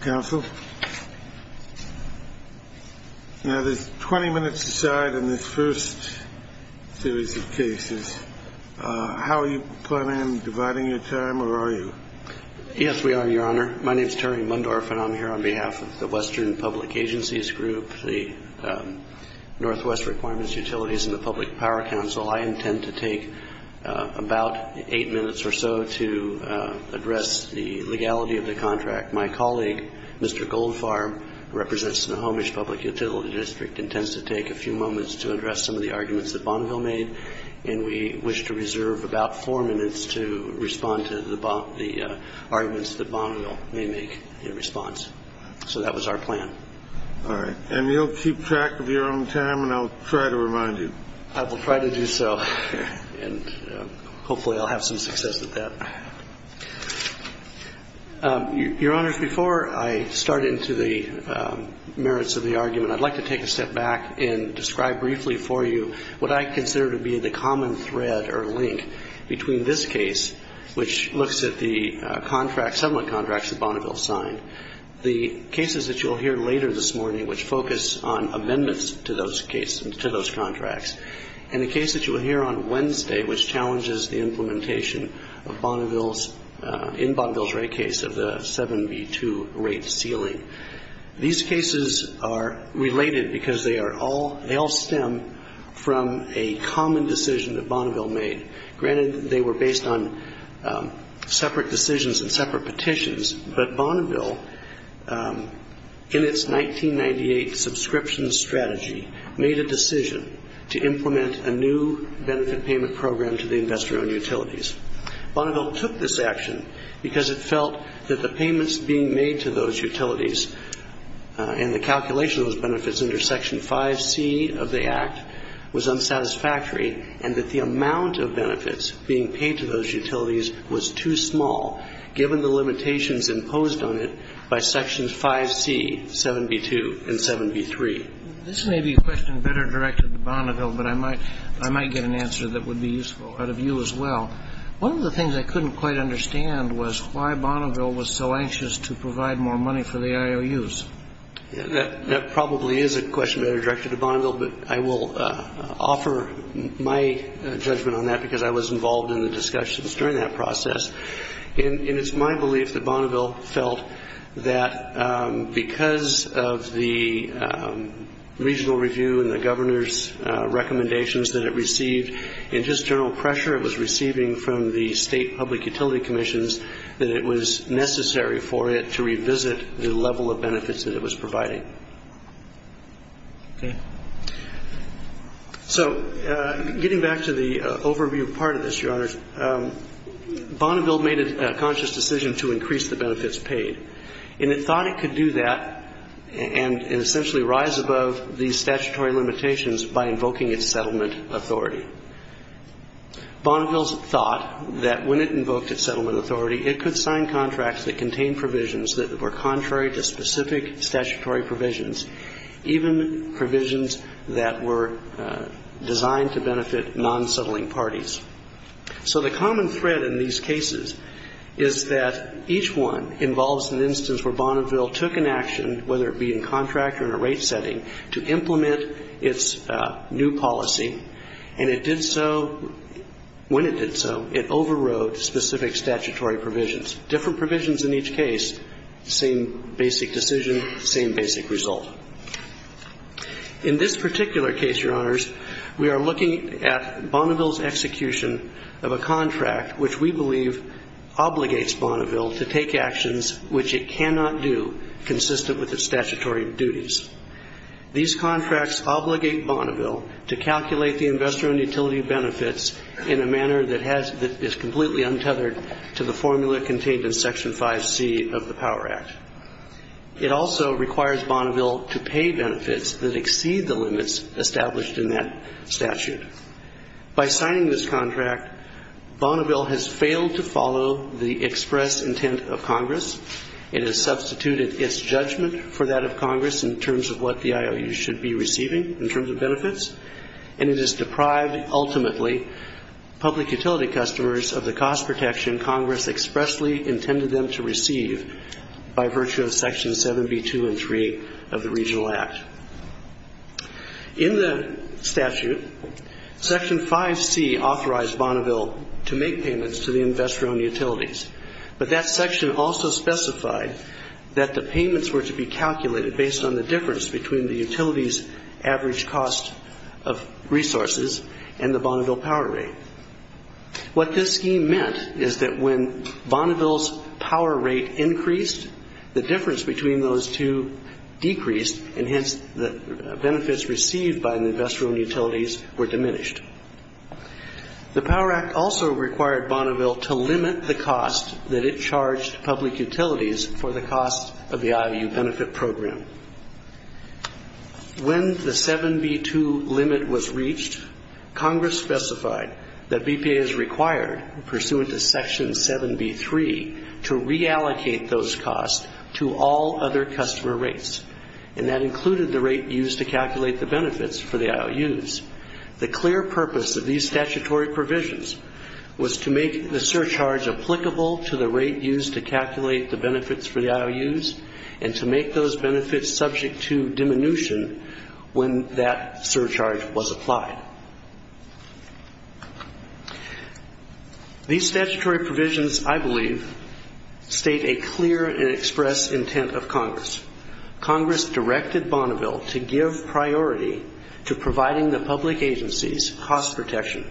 Council, now there's 20 minutes aside in this first series of cases. How are you planning on dividing your time, or are you? Yes, we are, Your Honor. My name is Terry Mundorf and I'm here on behalf of the Western Public Agencies Group, the Northwest Requirements Utilities, and the Public Power Council. I intend to take about eight minutes or so to address the legality of the contract. My colleague, Mr. Goldfarb, who represents the Snohomish Public Utility District, intends to take a few moments to address some of the arguments that Bonneville made, and we wish to reserve about four minutes to respond to the arguments that Bonneville may make in response. So that was our plan. All right. And you'll keep track of your own time, and I'll try to remind you. I will try to do so, and hopefully I'll have some success with that. Your Honors, before I start into the merits of the argument, I'd like to take a step back and describe briefly for you what I consider to be the common thread or link between this case, which looks at the contract, settlement contracts that Bonneville signed, the cases that you'll hear later this morning, which focus on amendments to those contracts, and the case that you'll hear on Wednesday, which challenges the implementation in Bonneville's rate case of the 7B2 rate ceiling. These cases are related because they all stem from a common decision that Bonneville made. Granted, they were based on separate decisions and separate petitions, but Bonneville, in its 1998 subscription strategy, made a decision to implement a new benefit payment program to the investor-owned utilities. Bonneville took this action because it felt that the payments being made to those utilities and the calculation of those benefits under Section 5C of the Act was unsatisfactory and that the amount of benefits being paid to those utilities was too small, given the limitations imposed on it by Sections 5C, 7B2, and 7B3. This may be a question better directed to Bonneville, but I might get an answer that would be useful out of you as well. One of the things I couldn't quite understand was why Bonneville was so anxious to provide more money for the IOUs. That probably is a question better directed to Bonneville, but I will offer my judgment on that because I was involved in the discussions during that process. And it's my belief that Bonneville felt that because of the regional review and the governor's recommendations that it received, and just general pressure it was receiving from the state public utility commissions, that it was necessary for it to revisit the level of benefits that it was providing. Okay. So getting back to the overview part of this, Your Honors, Bonneville made a conscious decision to increase the benefits paid. And it thought it could do that and essentially rise above these statutory limitations by invoking its settlement authority. Bonneville thought that when it invoked its settlement authority, it could sign contracts that contained provisions that were contrary to specific statutory provisions, even provisions that were designed to benefit non-settling parties. So the common thread in these cases is that each one involves an instance where Bonneville took an action, whether it be in contract or in a rate setting, to implement its new policy, and it did so, when it did so, it overrode specific statutory provisions. Different provisions in each case, same basic decision, same basic result. In this particular case, Your Honors, we are looking at Bonneville's execution of a contract, which we believe obligates Bonneville to take actions which it cannot do consistent with its statutory duties. These contracts obligate Bonneville to calculate the investor and utility benefits in a manner that is completely untethered to the formula contained in Section 5C of the Power Act. It also requires Bonneville to pay benefits that exceed the limits established in that statute. By signing this contract, Bonneville has failed to follow the express intent of Congress. It has substituted its judgment for that of Congress in terms of what the IOU should be receiving in terms of benefits, and it has deprived ultimately public utility customers of the cost protection Congress expressly intended them to receive by virtue of Sections 7B, 2, and 3 of the Regional Act. In the statute, Section 5C authorized Bonneville to make payments to the investor and utilities, but that section also specified that the payments were to be calculated based on the difference between the utility's average cost of resources and the Bonneville power rate. What this scheme meant is that when Bonneville's power rate increased, the difference between those two decreased, and hence the benefits received by the investor and utilities were diminished. The Power Act also required Bonneville to limit the cost that it charged public utilities for the cost of the IOU benefit program. When the 7B, 2 limit was reached, Congress specified that BPA is required, pursuant to Section 7B, 3, to reallocate those costs to all other customer rates, and that included the rate used to calculate the benefits for the IOUs. The clear purpose of these statutory provisions was to make the surcharge applicable to the rate used to calculate the benefits for the IOUs and to make those benefits subject to diminution when that surcharge was applied. These statutory provisions, I believe, state a clear and express intent of Congress. Congress directed Bonneville to give priority to providing the public agencies cost protection,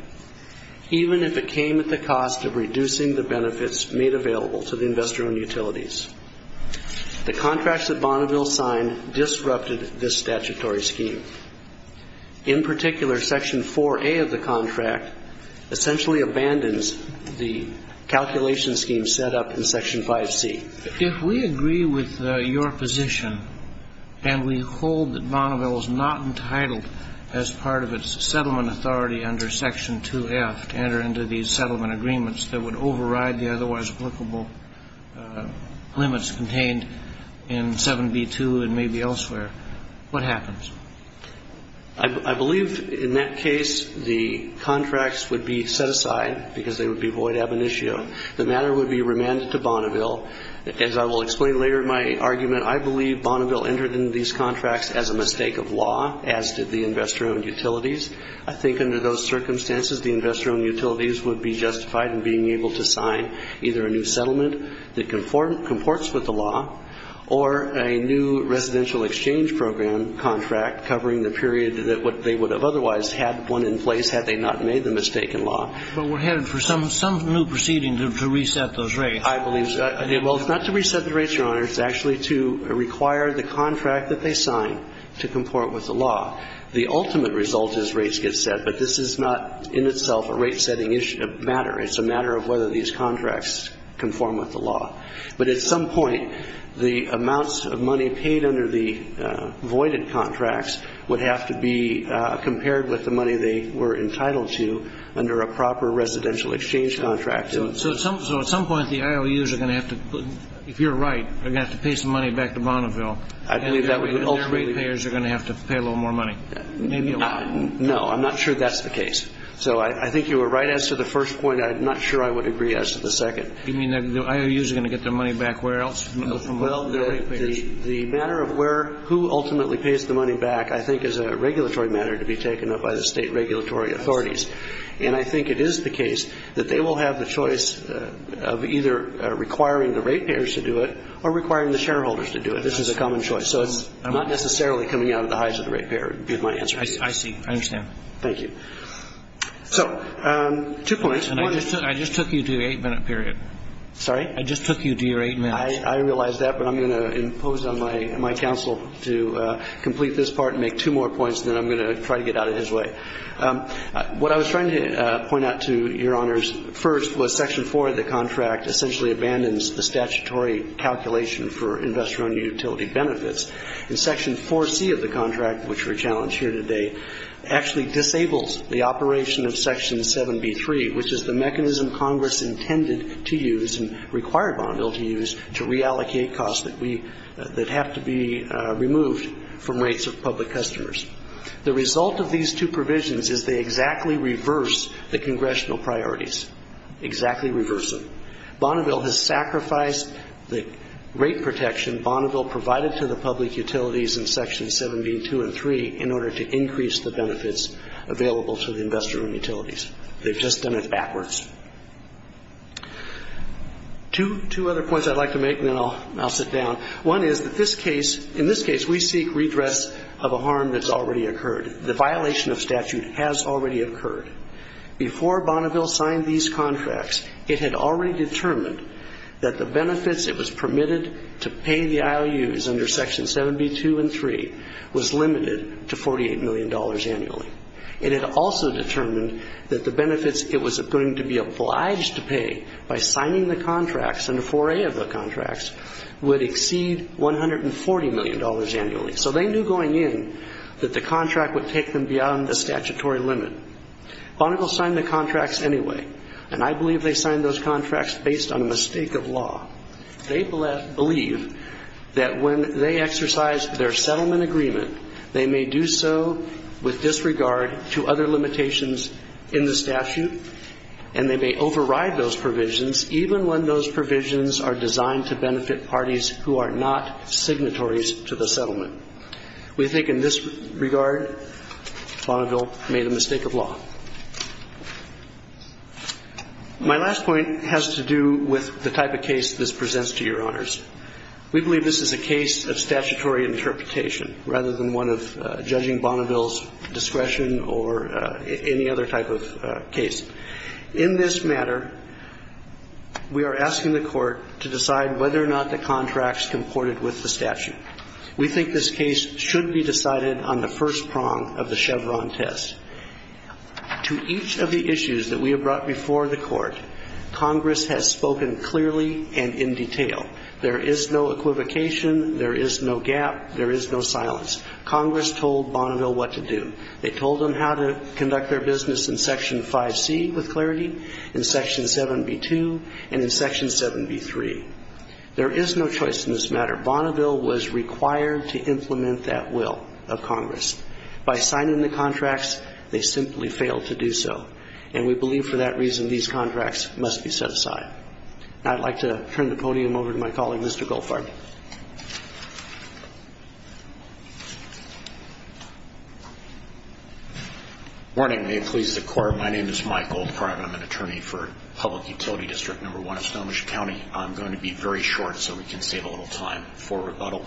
even if it came at the cost of reducing the benefits made available to the investor and utilities. The contracts that Bonneville signed disrupted this statutory scheme. In particular, Section 4A of the contract essentially abandons the calculation scheme set up in Section 5C. If we agree with your position and we hold that Bonneville is not entitled, as part of its settlement authority under Section 2F, to enter into these settlement agreements that would override the otherwise applicable limits contained in 7B, 2 and maybe elsewhere, what happens? I believe, in that case, the contracts would be set aside because they would be void ab initio. The matter would be remanded to Bonneville. As I will explain later in my argument, I believe Bonneville entered into these contracts as a mistake of law, as did the investor-owned utilities. I think under those circumstances, the investor-owned utilities would be justified in being able to sign either a new settlement that comports with the law or a new residential exchange program contract covering the period that they would have otherwise had one in place had they not made the mistaken law. But we're headed for some new proceeding to reset those rates. I believe so. Well, it's not to reset the rates, Your Honor. It's actually to require the contract that they sign to comport with the law. The ultimate result is rates get set, but this is not in itself a rate-setting matter. It's a matter of whether these contracts conform with the law. But at some point, the amounts of money paid under the voided contracts would have to be compared with the money they were entitled to under a proper residential exchange contract. So at some point, the IOUs are going to have to put, if you're right, they're going to have to pay some money back to Bonneville. I believe that would ultimately be. And their ratepayers are going to have to pay a little more money. Maybe a little. No, I'm not sure that's the case. So I think you were right as to the first point. I'm not sure I would agree as to the second. You mean the IOUs are going to get their money back where else from the ratepayers? The matter of where, who ultimately pays the money back, I think, is a regulatory matter to be taken up by the State regulatory authorities. And I think it is the case that they will have the choice of either requiring the ratepayers to do it or requiring the shareholders to do it. This is a common choice. So it's not necessarily coming out of the eyes of the ratepayer, would be my answer. I see. I understand. Thank you. So, two points. I just took you to the eight-minute period. Sorry? I just took you to your eight minutes. I realize that, but I'm going to impose on my counsel to complete this part and make two more points, and then I'm going to try to get out of his way. What I was trying to point out to Your Honors first was Section 4 of the contract essentially abandons the statutory calculation for investor-owned utility benefits. And Section 4C of the contract, which we're challenged here today, actually disables the operation of Section 7B3, which is the mechanism Congress intended to use and required Bonneville to use to reallocate costs that have to be removed from rates of public customers. The result of these two provisions is they exactly reverse the congressional priorities, exactly reverse them. Bonneville has sacrificed the rate protection Bonneville provided to the public utilities in Sections 7B2 and 3 in order to increase the benefits available to the investor-owned utilities. They've just done it backwards. Two other points I'd like to make, and then I'll sit down. One is that in this case we seek redress of a harm that's already occurred. The violation of statute has already occurred. Before Bonneville signed these contracts, it had already determined that the benefits it was permitted to pay the IOUs under Sections 7B2 and 3 was limited to $48 million annually. It had also determined that the benefits it was going to be obliged to pay by signing the contracts and the foray of the contracts would exceed $140 million annually. So they knew going in that the contract would take them beyond the statutory limit. Bonneville signed the contracts anyway, and I believe they signed those contracts based on a mistake of law. They believe that when they exercise their settlement agreement, they may do so with disregard to other limitations in the statute, and they may override those provisions even when those provisions are designed to benefit parties who are not signatories to the settlement. We think in this regard Bonneville made a mistake of law. My last point has to do with the type of case this presents to Your Honors. We believe this is a case of statutory interpretation rather than one of judging Bonneville's discretion or any other type of case. In this matter, we are asking the Court to decide whether or not the contracts comported with the statute. We think this case should be decided on the first prong of the Chevron test. To each of the issues that we have brought before the Court, Congress has spoken clearly and in detail there is no equivocation, there is no gap, there is no silence. Congress told Bonneville what to do. They told them how to conduct their business in Section 5C with clarity, in Section 7B2, and in Section 7B3. There is no choice in this matter. Bonneville was required to implement that will of Congress. By signing the contracts, they simply failed to do so, and we believe for that reason these contracts must be set aside. I'd like to turn the podium over to my colleague, Mr. Goldfarb. Good morning. May it please the Court, my name is Mike Goldfarb. I'm an attorney for Public Utility District No. 1 in Snohomish County. I'm going to be very short so we can save a little time for rebuttal.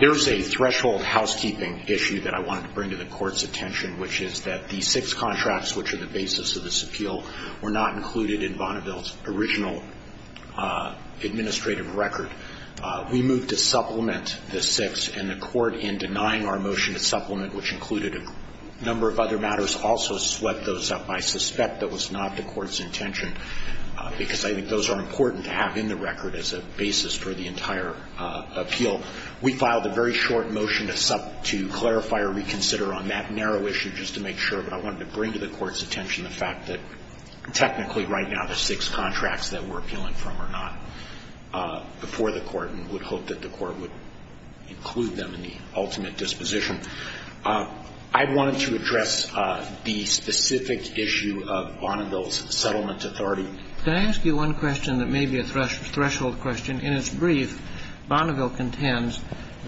There is a threshold housekeeping issue that I wanted to bring to the Court's attention, which is that the six contracts which are the basis of this appeal were not included in Bonneville's original administrative record. We moved to supplement the six, and the Court, in denying our motion to supplement, which included a number of other matters, also swept those up. I suspect that was not the Court's intention, because I think those are important to have in the record as a basis for the entire appeal. We filed a very short motion to clarify or reconsider on that narrow issue just to make sure, but I wanted to bring to the Court's attention the fact that technically right now the six contracts that we're appealing from are not before the Court and would hope that the Court would include them in the ultimate disposition. I wanted to address the specific issue of Bonneville's settlement authority. Can I ask you one question that may be a threshold question? In its brief, Bonneville contends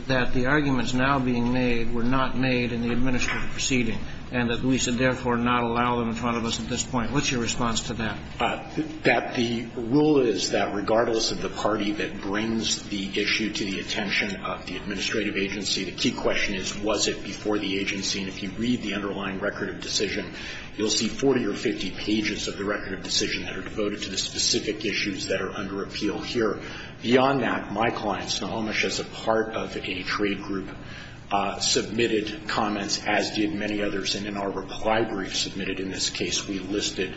that the arguments now being made were not made in the administrative proceeding and that we should therefore not allow them in front of us at this point. What's your response to that? That the rule is that regardless of the party that brings the issue to the attention of the administrative agency, the key question is was it before the agency. And if you read the underlying record of decision, you'll see 40 or 50 pages of the record of decision that are devoted to the specific issues that are under appeal here. Beyond that, my client, Snohomish, as a part of a trade group, submitted comments as did many others. And in our reply brief submitted in this case, we listed,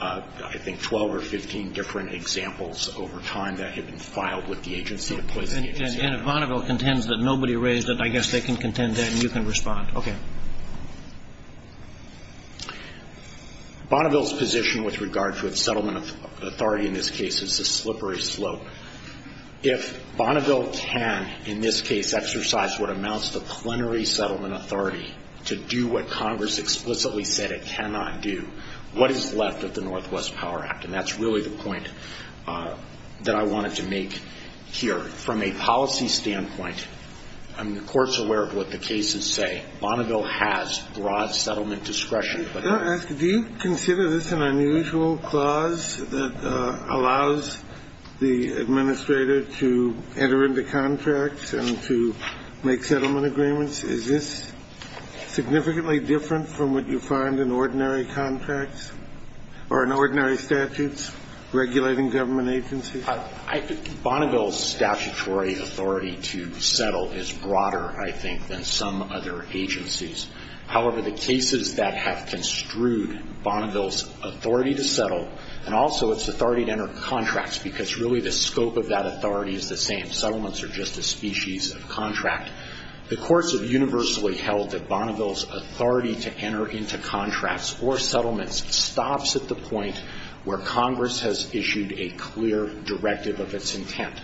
I think, 12 or 15 different examples over time that had been filed with the agency, the placing agency. And if Bonneville contends that nobody raised it, I guess they can contend that and you can respond. Okay. Bonneville's position with regard to its settlement authority in this case is a slippery slope. If Bonneville can, in this case, exercise what amounts to plenary settlement authority to do what Congress explicitly said it cannot do, what is left of the Northwest Power Act? And that's really the point that I wanted to make here. From a policy standpoint, I mean, the Court's aware of what the cases say. Bonneville has broad settlement discretion. I want to ask, do you consider this an unusual clause that allows the administrator to enter into contracts and to make settlement agreements? Is this significantly different from what you find in ordinary contracts or in ordinary statutes regulating government agencies? I think Bonneville's statutory authority to settle is broader, I think, than some other agencies. However, the cases that have construed Bonneville's authority to settle and also its authority to enter contracts, because really the scope of that authority is the same. Settlements are just a species of contract. The courts have universally held that Bonneville's authority to enter into contracts or settlements stops at the point where Congress has issued a clear directive of its intent.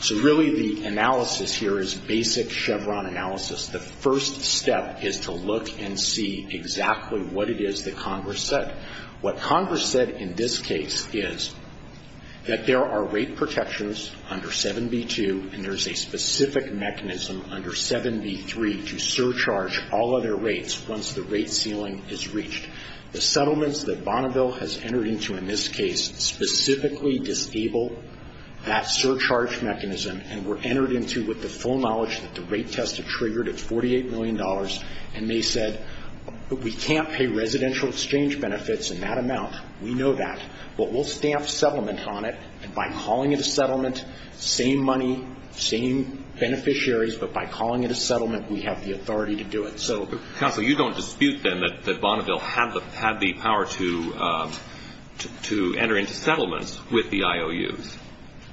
So really the analysis here is basic Chevron analysis. The first step is to look and see exactly what it is that Congress said. What Congress said in this case is that there are rate protections under 7b-2 and there's a specific mechanism under 7b-3 to surcharge all other rates once the rate ceiling is reached. The settlements that Bonneville has entered into in this case specifically disable that surcharge mechanism and were entered into with the full knowledge that the rate test had triggered at $48 million and they said, we can't pay residential exchange benefits in that amount, we know that, but we'll stamp settlement on it and by calling it a settlement, same money, same beneficiaries, but by calling it a settlement we have the authority to do it. Counsel, you don't dispute then that Bonneville had the power to enter into settlements with the IOUs.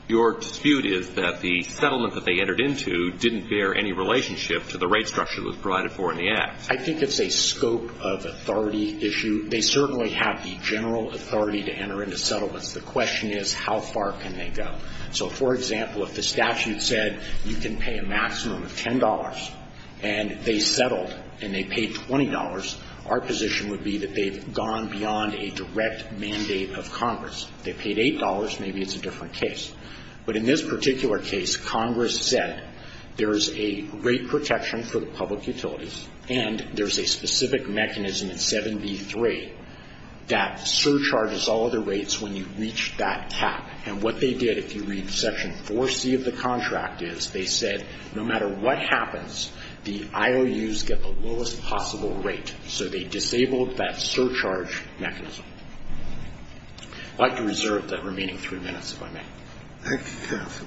Your dispute is that the settlement that they entered into didn't bear any relationship to the rate structure that was provided for in the Act. I think it's a scope of authority issue. They certainly have the general authority to enter into settlements. The question is how far can they go. So, for example, if the statute said you can pay a maximum of $10 and they settled and they paid $20, our position would be that they've gone beyond a direct mandate of Congress. If they paid $8, maybe it's a different case. But in this particular case, Congress said there's a rate protection for the public utilities and there's a specific mechanism in 7B3 that surcharges all other rates when you reach that cap. And what they did, if you read Section 4C of the contract, is they said no matter what happens, the IOUs get the lowest possible rate. So they disabled that surcharge mechanism. I'd like to reserve that remaining three minutes, if I may. Thank you.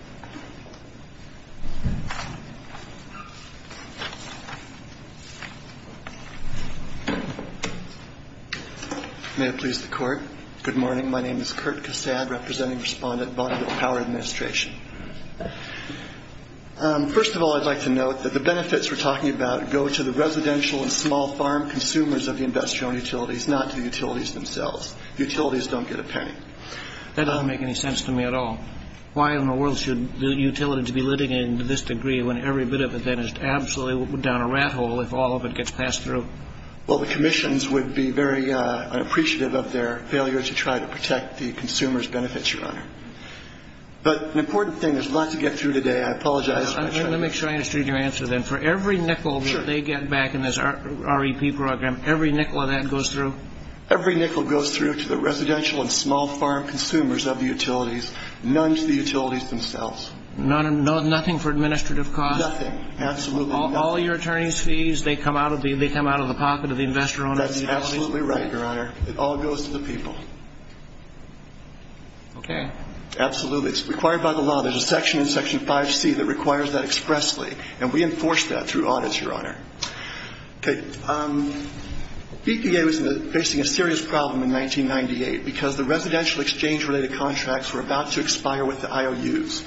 May it please the Court. Good morning. My name is Kurt Cassad, representing respondent, Bonneville Power Administration. First of all, I'd like to note that the benefits we're talking about go to the residential and small farm consumers of the industrial utilities, not to the utilities themselves. Utilities don't get a penny. That doesn't make any sense to me at all. Why in the world should the utilities be living in this degree when every bit of it then is absolutely down a rat hole if all of it gets passed through? Well, the commissions would be very unappreciative of their failure to try to protect the consumers' benefits, Your Honor. But an important thing, there's a lot to get through today. I apologize for my shortness. Let me make sure I understood your answer then. For every nickel that they get back in this REP program, every nickel of that goes through? Every nickel goes through to the residential and small farm consumers of the utilities, none to the utilities themselves. Nothing for administrative costs? Nothing. Absolutely nothing. All your attorneys' fees, they come out of the pocket of the investor-owned utilities? That's absolutely right, Your Honor. It all goes to the people. Okay. Absolutely. It's required by the law. There's a section in Section 5C that requires that expressly. And we enforce that through audits, Your Honor. Okay. BPA was facing a serious problem in 1998 because the residential exchange-related contracts were about to expire with the IOUs.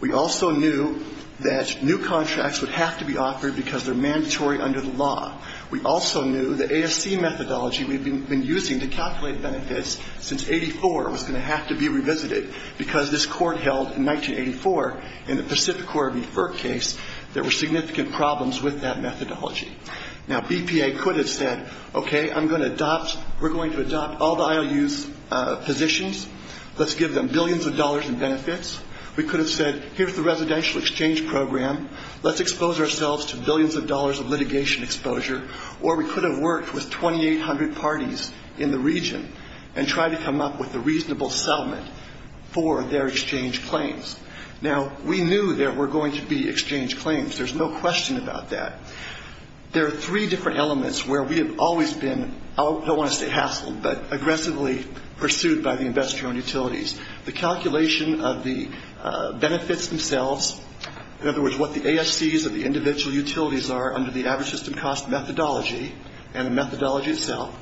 We also knew that new contracts would have to be offered because they're mandatory under the law. We also knew the ASC methodology we'd been using to calculate benefits since 1984 was going to have to be revisited because this Court held in 1984 in the Pacific Quarry Refer case, there were significant problems with that methodology. Now, BPA could have said, okay, I'm going to adopt, we're going to adopt all the IOUs' positions. Let's give them billions of dollars in benefits. We could have said, here's the residential exchange program. Let's expose ourselves to billions of dollars of litigation exposure. Or we could have worked with 2,800 parties in the region and tried to come up with a reasonable settlement for their exchange claims. Now, we knew there were going to be exchange claims. There's no question about that. There are three different elements where we have always been, I don't want to say hassled, but aggressively pursued by the investor-owned utilities. The calculation of the benefits themselves, in other words, what the ASCs of the individual utilities are under the average system cost methodology and the methodology itself,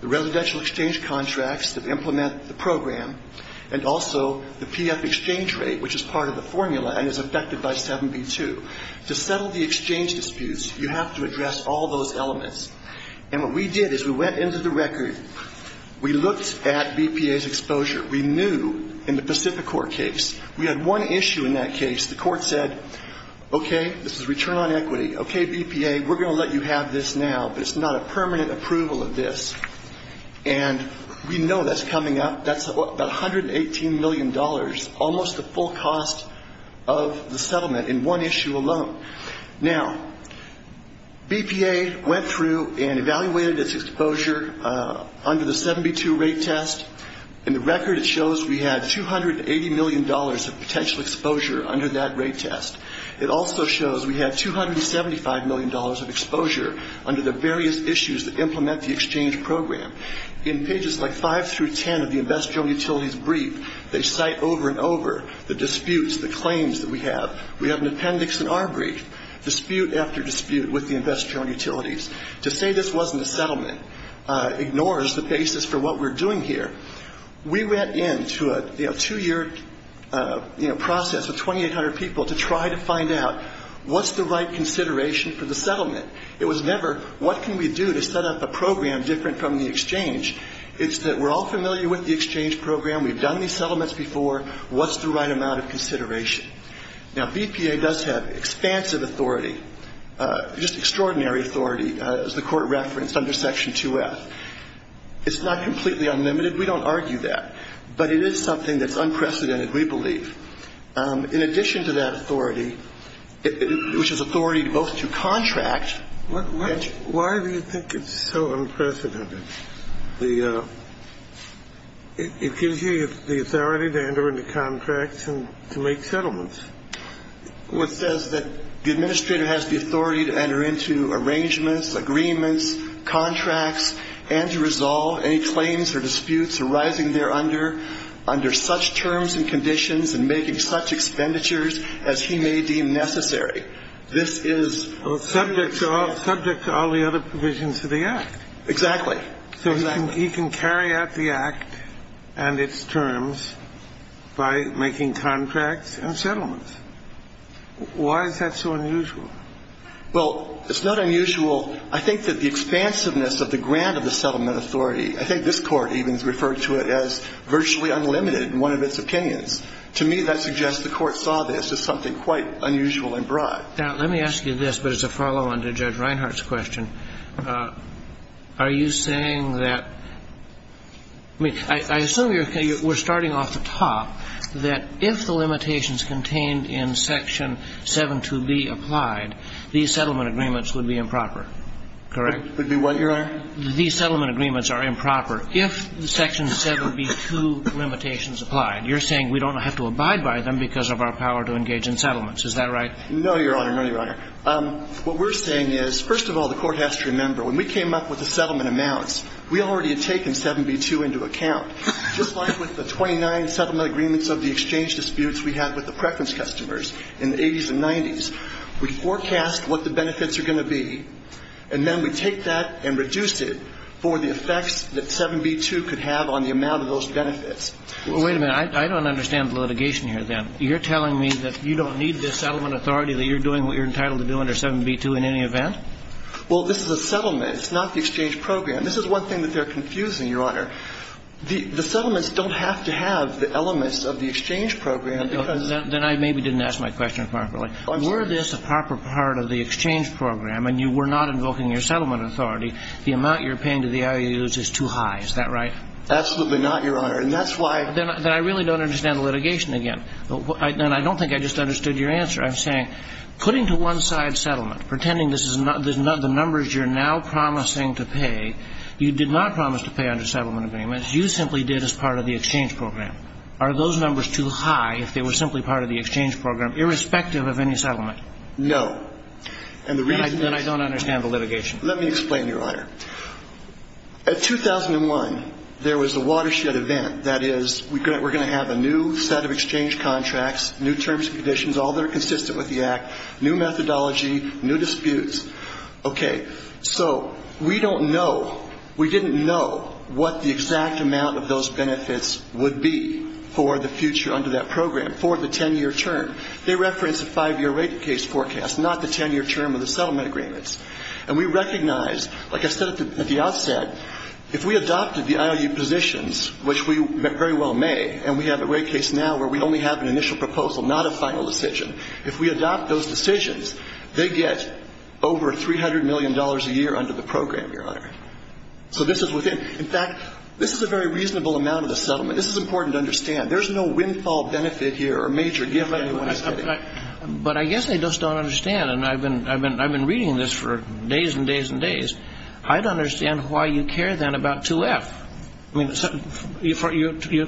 the residential exchange contracts that implement the program, and also the PF exchange rate, which is part of the formula and is affected by 7B2. To settle the exchange disputes, you have to address all those elements. And what we did is we went into the record, we looked at BPA's exposure. We knew in the Pacific Core case, we had one issue in that case. The court said, okay, this is return on equity. Okay, BPA, we're going to let you have this now, but it's not a permanent approval of this. And we know that's coming up. That's about $118 million, almost the full cost of the settlement in one issue alone. Now, BPA went through and evaluated its exposure under the 7B2 rate test. In the record, it shows we had $280 million of potential exposure under that rate test. It also shows we had $275 million of exposure under the various issues that implement the exchange program. In pages like five through ten of the Investor-Owned Utilities Brief, they cite over and over the disputes, the claims that we have. We have an appendix in our brief. Dispute after dispute with the Investor-Owned Utilities. To say this wasn't a settlement ignores the basis for what we're doing here. We went into a two-year process of 2,800 people to try to find out what's the right consideration for the settlement. It was never what can we do to set up a program different from the exchange. It's that we're all familiar with the exchange program. We've done these settlements before. What's the right amount of consideration? Now, BPA does have expansive authority, just extraordinary authority, as the Court referenced under Section 2F. It's not completely unlimited. We don't argue that. But it is something that's unprecedented, we believe. In addition to that authority, which is authority both to contract. Why do you think it's so unprecedented? It gives you the authority to enter into contracts and to make settlements. What says that the administrator has the authority to enter into arrangements, agreements, contracts, and to resolve any claims or disputes arising there under such terms and conditions and making such expenditures as he may deem necessary? This is subject to all the other provisions of the Act. Exactly. So he can carry out the Act and its terms by making contracts and settlements. Why is that so unusual? Well, it's not unusual. I think that the expansiveness of the grant of the settlement authority, I think this is limited in one of its opinions. To me, that suggests the Court saw this as something quite unusual and broad. Now, let me ask you this, but it's a follow-on to Judge Reinhart's question. Are you saying that – I mean, I assume we're starting off the top, that if the limitations contained in Section 72B applied, these settlement agreements would be improper. Correct? Would be what, Your Honor? These settlement agreements are improper. If Section 7B2 limitations applied, you're saying we don't have to abide by them because of our power to engage in settlements. Is that right? No, Your Honor. No, Your Honor. What we're saying is, first of all, the Court has to remember, when we came up with the settlement amounts, we already had taken 7B2 into account. Just like with the 29 settlement agreements of the exchange disputes we had with the preference customers in the 80s and 90s, we forecast what the benefits are going to be, and then we take that and reduce it for the effects that 7B2 could have on the amount of those benefits. Well, wait a minute. I don't understand the litigation here, then. You're telling me that you don't need this settlement authority, that you're doing what you're entitled to do under 7B2 in any event? Well, this is a settlement. It's not the exchange program. This is one thing that they're confusing, Your Honor. The settlements don't have to have the elements of the exchange program because Then I maybe didn't ask my question properly. Were this a proper part of the exchange program and you were not invoking your settlement authority, the amount you're paying to the IOUs is too high. Is that right? Absolutely not, Your Honor. And that's why Then I really don't understand the litigation again. And I don't think I just understood your answer. I'm saying, putting to one side settlement, pretending this is the numbers you're now promising to pay, you did not promise to pay under settlement agreements. You simply did as part of the exchange program. Are those numbers too high if they were simply part of the exchange program, irrespective of any settlement? No. Then I don't understand the litigation. Let me explain, Your Honor. At 2001, there was a watershed event. That is, we're going to have a new set of exchange contracts, new terms and conditions, all that are consistent with the Act, new methodology, new disputes. Okay. So we don't know. We didn't know what the exact amount of those benefits would be for the future under that program for the 10-year term. They reference a five-year rate case forecast, not the 10-year term of the settlement agreements. And we recognize, like I said at the outset, if we adopted the IOU positions, which we very well may, and we have a rate case now where we only have an initial proposal, not a final decision, if we adopt those decisions, they get over $300 million a year under the program, Your Honor. So this is within. In fact, this is a very reasonable amount of the settlement. This is important to understand. There's no windfall benefit here or major gift anyone is getting. But I guess I just don't understand, and I've been reading this for days and days and days. I don't understand why you care then about 2F. I mean,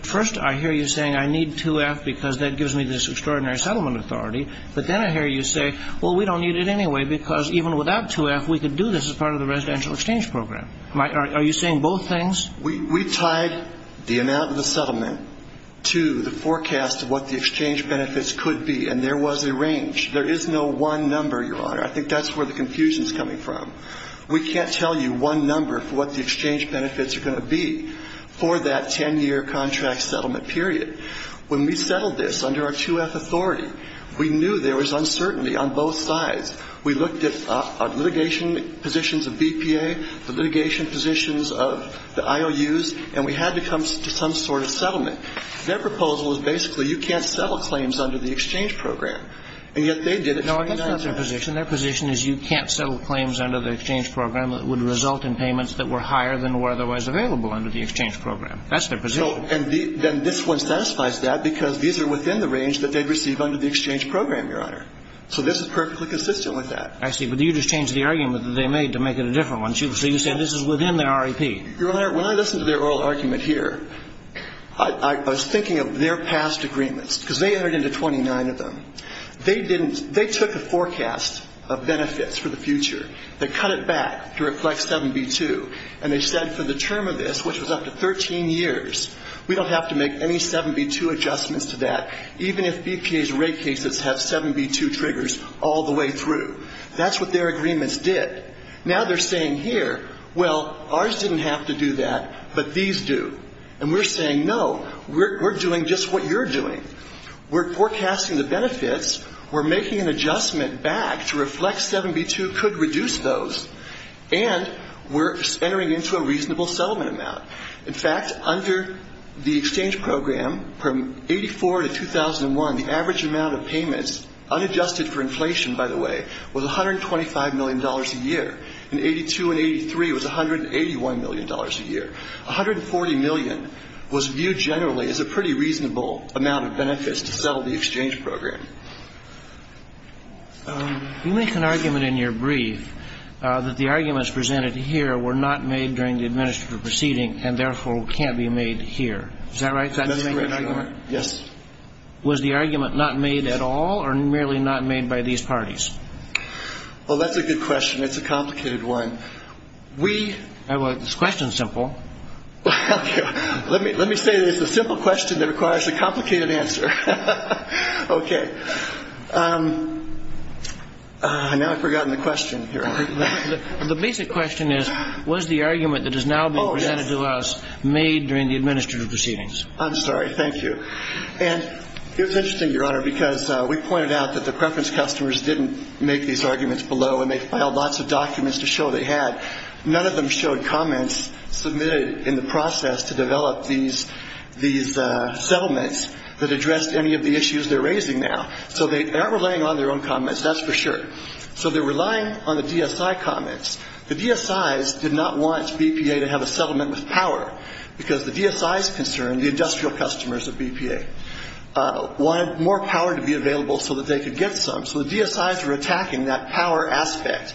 first I hear you saying I need 2F because that gives me this extraordinary settlement authority, but then I hear you say, well, we don't need it anyway because even without 2F, we could do this as part of the residential exchange program. Are you saying both things? We tied the amount of the settlement to the forecast of what the exchange benefits could be, and there was a range. There is no one number, Your Honor. I think that's where the confusion is coming from. We can't tell you one number for what the exchange benefits are going to be for that 10-year contract settlement period. When we settled this under our 2F authority, we knew there was uncertainty on both sides. We looked at litigation positions of BPA, the litigation positions of the IOUs, and we had to come to some sort of settlement. Their proposal was basically you can't settle claims under the exchange program, and yet they did it 29 times. No, that's not their position. Their position is you can't settle claims under the exchange program that would result in payments that were higher than were otherwise available under the exchange program. That's their position. And then this one satisfies that because these are within the range that they'd receive under the exchange program, Your Honor. So this is perfectly consistent with that. I see. But you just changed the argument that they made to make it a different one. So you said this is within their REP. Your Honor, when I listened to their oral argument here, I was thinking of their past agreements because they entered into 29 of them. They took a forecast of benefits for the future. They cut it back to reflect 7B2, and they said for the term of this, which was up to 13 years, we don't have to make any 7B2 adjustments to that even if BPA's rate cases have 7B2 triggers all the way through. That's what their agreements did. Now they're saying here, well, ours didn't have to do that, but these do. And we're saying, no, we're doing just what you're doing. We're forecasting the benefits. We're making an adjustment back to reflect 7B2 could reduce those. And we're entering into a reasonable settlement amount. In fact, under the exchange program, from 84 to 2001, the average amount of payments, unadjusted for inflation, by the way, was $125 million a year. In 82 and 83, it was $181 million a year. $140 million was viewed generally as a pretty reasonable amount of benefits to settle the exchange program. You make an argument in your brief that the arguments presented here were not made during the administrative proceeding and, therefore, can't be made here. Is that right? That's the argument? Yes. Was the argument not made at all or merely not made by these parties? Well, that's a good question. It's a complicated one. Well, the question's simple. Let me say that it's a simple question that requires a complicated answer. Okay. Now I've forgotten the question here. The basic question is, was the argument that is now being presented to us made during the administrative proceedings? I'm sorry. Thank you. And it was interesting, Your Honor, because we pointed out that the preference customers didn't make these arguments below and they filed lots of documents to show they had. None of them showed comments submitted in the process to develop these settlements that addressed any of the issues they're raising now. So they aren't relying on their own comments, that's for sure. So they're relying on the DSI comments. The DSIs did not want BPA to have a settlement with power because the DSIs concerned, the industrial customers of BPA, wanted more power to be available so that they could get some. So the DSIs were attacking that power aspect.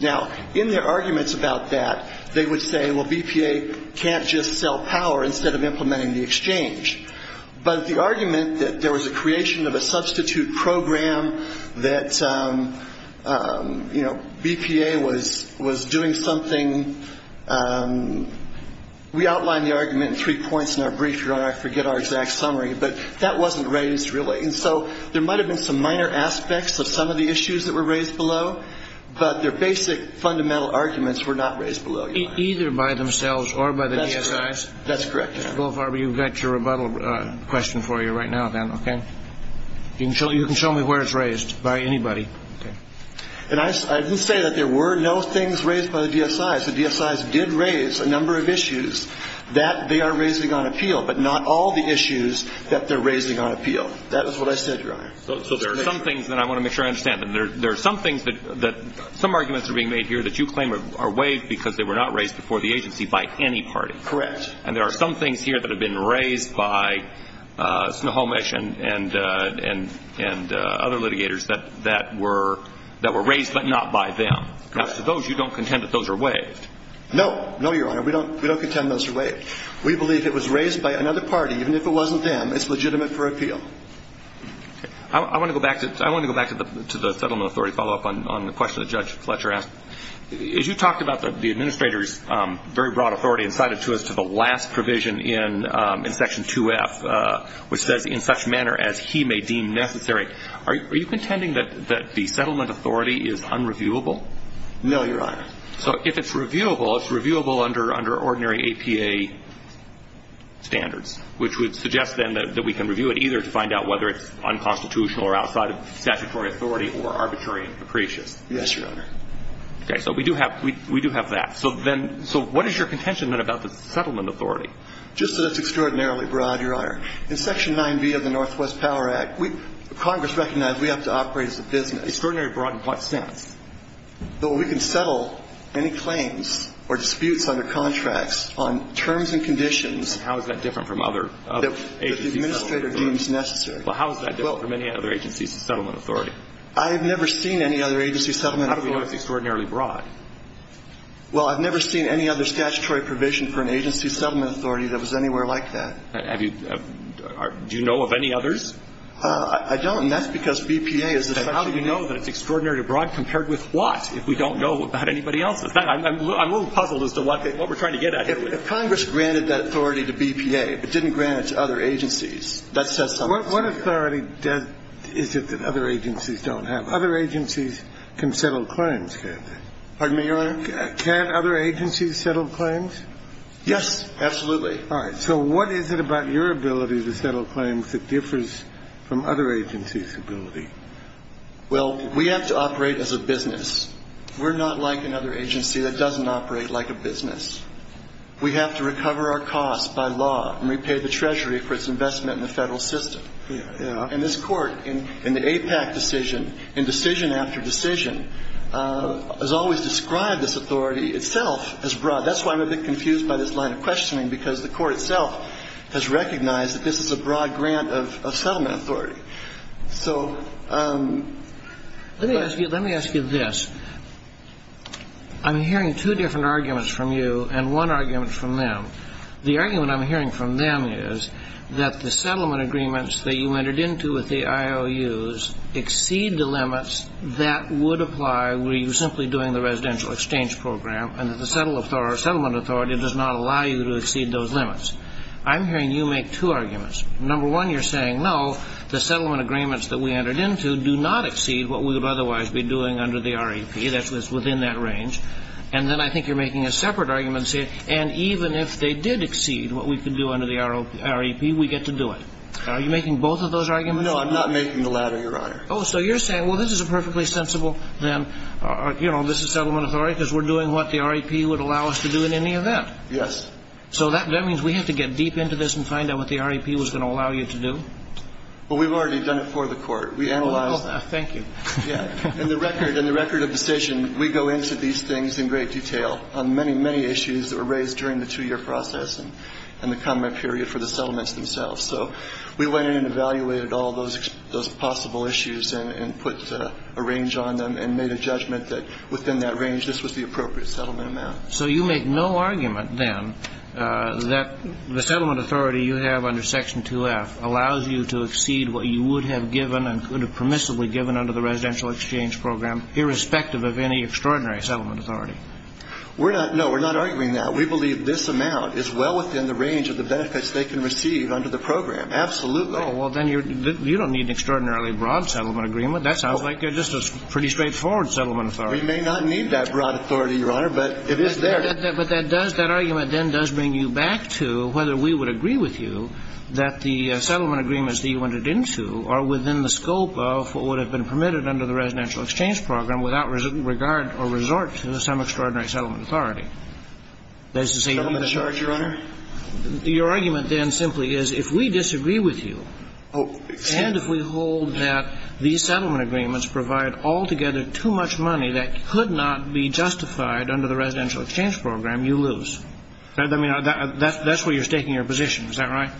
Now, in their arguments about that, they would say, well, BPA can't just sell power instead of implementing the exchange. But the argument that there was a creation of a substitute program, that, you know, BPA was doing something, we outlined the argument in three points in our brief, Your Honor, I forget our exact summary, but that wasn't raised really. And so there might have been some minor aspects of some of the issues that were raised below, but their basic fundamental arguments were not raised below, Your Honor. Either by themselves or by the DSIs? That's correct. Mr. Goldfarb, you've got your rebuttal question for you right now, then, okay? You can show me where it's raised, by anybody. And I didn't say that there were no things raised by the DSIs. The DSIs did raise a number of issues that they are raising on appeal, but not all the issues that they're raising on appeal. That is what I said, Your Honor. So there are some things that I want to make sure I understand. There are some things that some arguments are being made here that you claim are waived because they were not raised before the agency by any party. Correct. And there are some things here that have been raised by Snohomish and other litigators that were raised but not by them. Correct. As to those, you don't contend that those are waived? No. No, Your Honor. We don't contend those are waived. We believe it was raised by another party. Even if it wasn't them, it's legitimate for appeal. Okay. I want to go back to the Settlement Authority, follow up on the question that Judge Fletcher asked. As you talked about the Administrator's very broad authority and cited to us to the last provision in Section 2F, which says in such manner as he may deem necessary, are you contending that the Settlement Authority is unreviewable? No, Your Honor. So if it's reviewable, it's reviewable under ordinary APA standards, which would suggest then that we can review it either to find out whether it's unconstitutional or outside of statutory authority or arbitrary and capricious. Yes, Your Honor. Okay. So we do have that. So what is your contention then about the Settlement Authority? Just that it's extraordinarily broad, Your Honor. In Section 9B of the Northwest Power Act, Congress recognized we have to operate as a business. Extraordinary broad in what sense? That we can settle any claims or disputes under contracts on terms and conditions. How is that different from other agencies? That the Administrator deems necessary. Well, how is that different from any other agency's Settlement Authority? I have never seen any other agency's Settlement Authority. How do we know it's extraordinarily broad? Well, I've never seen any other statutory provision for an agency's Settlement Authority that was anywhere like that. Have you? Do you know of any others? I don't, and that's because BPA is the Settlement Authority. Then how do we know that it's extraordinarily broad compared with what if we don't know about anybody else? I'm a little puzzled as to what we're trying to get at here. If Congress granted that authority to BPA but didn't grant it to other agencies, that says something. What authority is it that other agencies don't have? Other agencies can settle claims, can't they? Pardon me, Your Honor? Can other agencies settle claims? Yes, absolutely. All right. So what is it about your ability to settle claims that differs from other agencies' ability? Well, we have to operate as a business. We're not like another agency that doesn't operate like a business. We have to recover our costs by law and repay the Treasury for its investment in the Federal system. And this Court, in the AIPAC decision, in decision after decision, has always described this authority itself as broad. That's why I'm a bit confused by this line of questioning, because the Court itself has recognized that this is a broad grant of settlement authority. So let me ask you this. I'm hearing two different arguments from you and one argument from them. The argument I'm hearing from them is that the settlement agreements that you entered into with the IOUs exceed the limits that would apply were you simply doing the residential exchange program and that the settlement authority does not allow you to exceed those limits. I'm hearing you make two arguments. Number one, you're saying, no, the settlement agreements that we entered into do not exceed what we would otherwise be doing under the REP. That's within that range. And then I think you're making a separate argument saying, and even if they did exceed what we could do under the REP, we get to do it. Are you making both of those arguments? No, I'm not making the latter, Your Honor. Oh, so you're saying, well, this is a perfectly sensible then, you know, this is settlement authority because we're doing what the REP would allow us to do in any event. Yes. So that means we have to get deep into this and find out what the REP was going to allow you to do? Well, we've already done it for the Court. We analyzed it. Well, thank you. Yeah. In the record of decision, we go into these things in great detail on many, many issues that were raised during the two-year process and the comment period for the settlements themselves. So we went in and evaluated all those possible issues and put a range on them and made a judgment that within that range, this was the appropriate settlement amount. So you make no argument then that the settlement authority you have under Section 2F allows you to exceed what you would have given and could have permissibly given under the residential exchange program, irrespective of any extraordinary settlement authority? No. We're not arguing that. We believe this amount is well within the range of the benefits they can receive under the program. Absolutely. Oh, well, then you don't need an extraordinarily broad settlement agreement. That sounds like just a pretty straightforward settlement authority. We may not need that broad authority, Your Honor, but it is there. But that does – that argument then does bring you back to whether we would agree with you that the settlement agreements that you entered into are within the scope of what would have been permitted under the residential exchange program without regard or resort to some extraordinary settlement authority. That is to say, you don't need to charge. Settlement authority, Your Honor? Your argument then simply is if we disagree with you and if we hold that these settlement agreements provide altogether too much money that could not be justified under the residential exchange program, you lose. I mean, that's where you're staking your position. Is that right?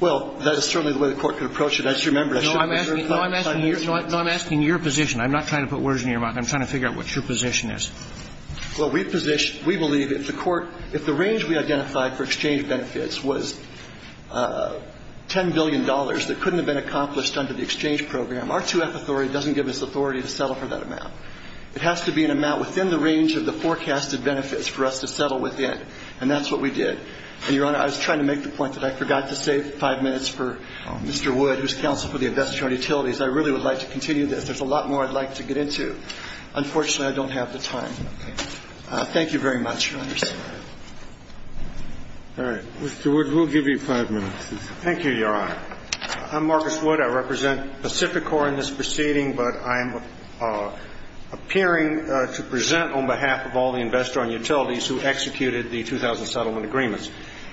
Well, that is certainly the way the Court could approach it. That's your member. No, I'm asking you. No, I'm asking your position. I'm not trying to put words in your mouth. I'm trying to figure out what your position is. Well, we position – we believe if the Court – if the range we identified for exchange benefits was $10 billion that couldn't have been accomplished under the exchange program, our 2F authority doesn't give us authority to settle for that amount. It has to be an amount within the range of the forecasted benefits for us to settle within. And that's what we did. And, Your Honor, I was trying to make the point that I forgot to save five minutes for Mr. Wood, who is counsel for the Investor-Owned Utilities. I really would like to continue this. There's a lot more I'd like to get into. Unfortunately, I don't have the time. Thank you very much, Your Honors. All right. Mr. Wood, we'll give you five minutes. Thank you, Your Honor. I'm Marcus Wood. I represent Pacificor in this proceeding, but I'm appearing to present on behalf of all the Investor-Owned Utilities who executed the 2000 settlement agreements.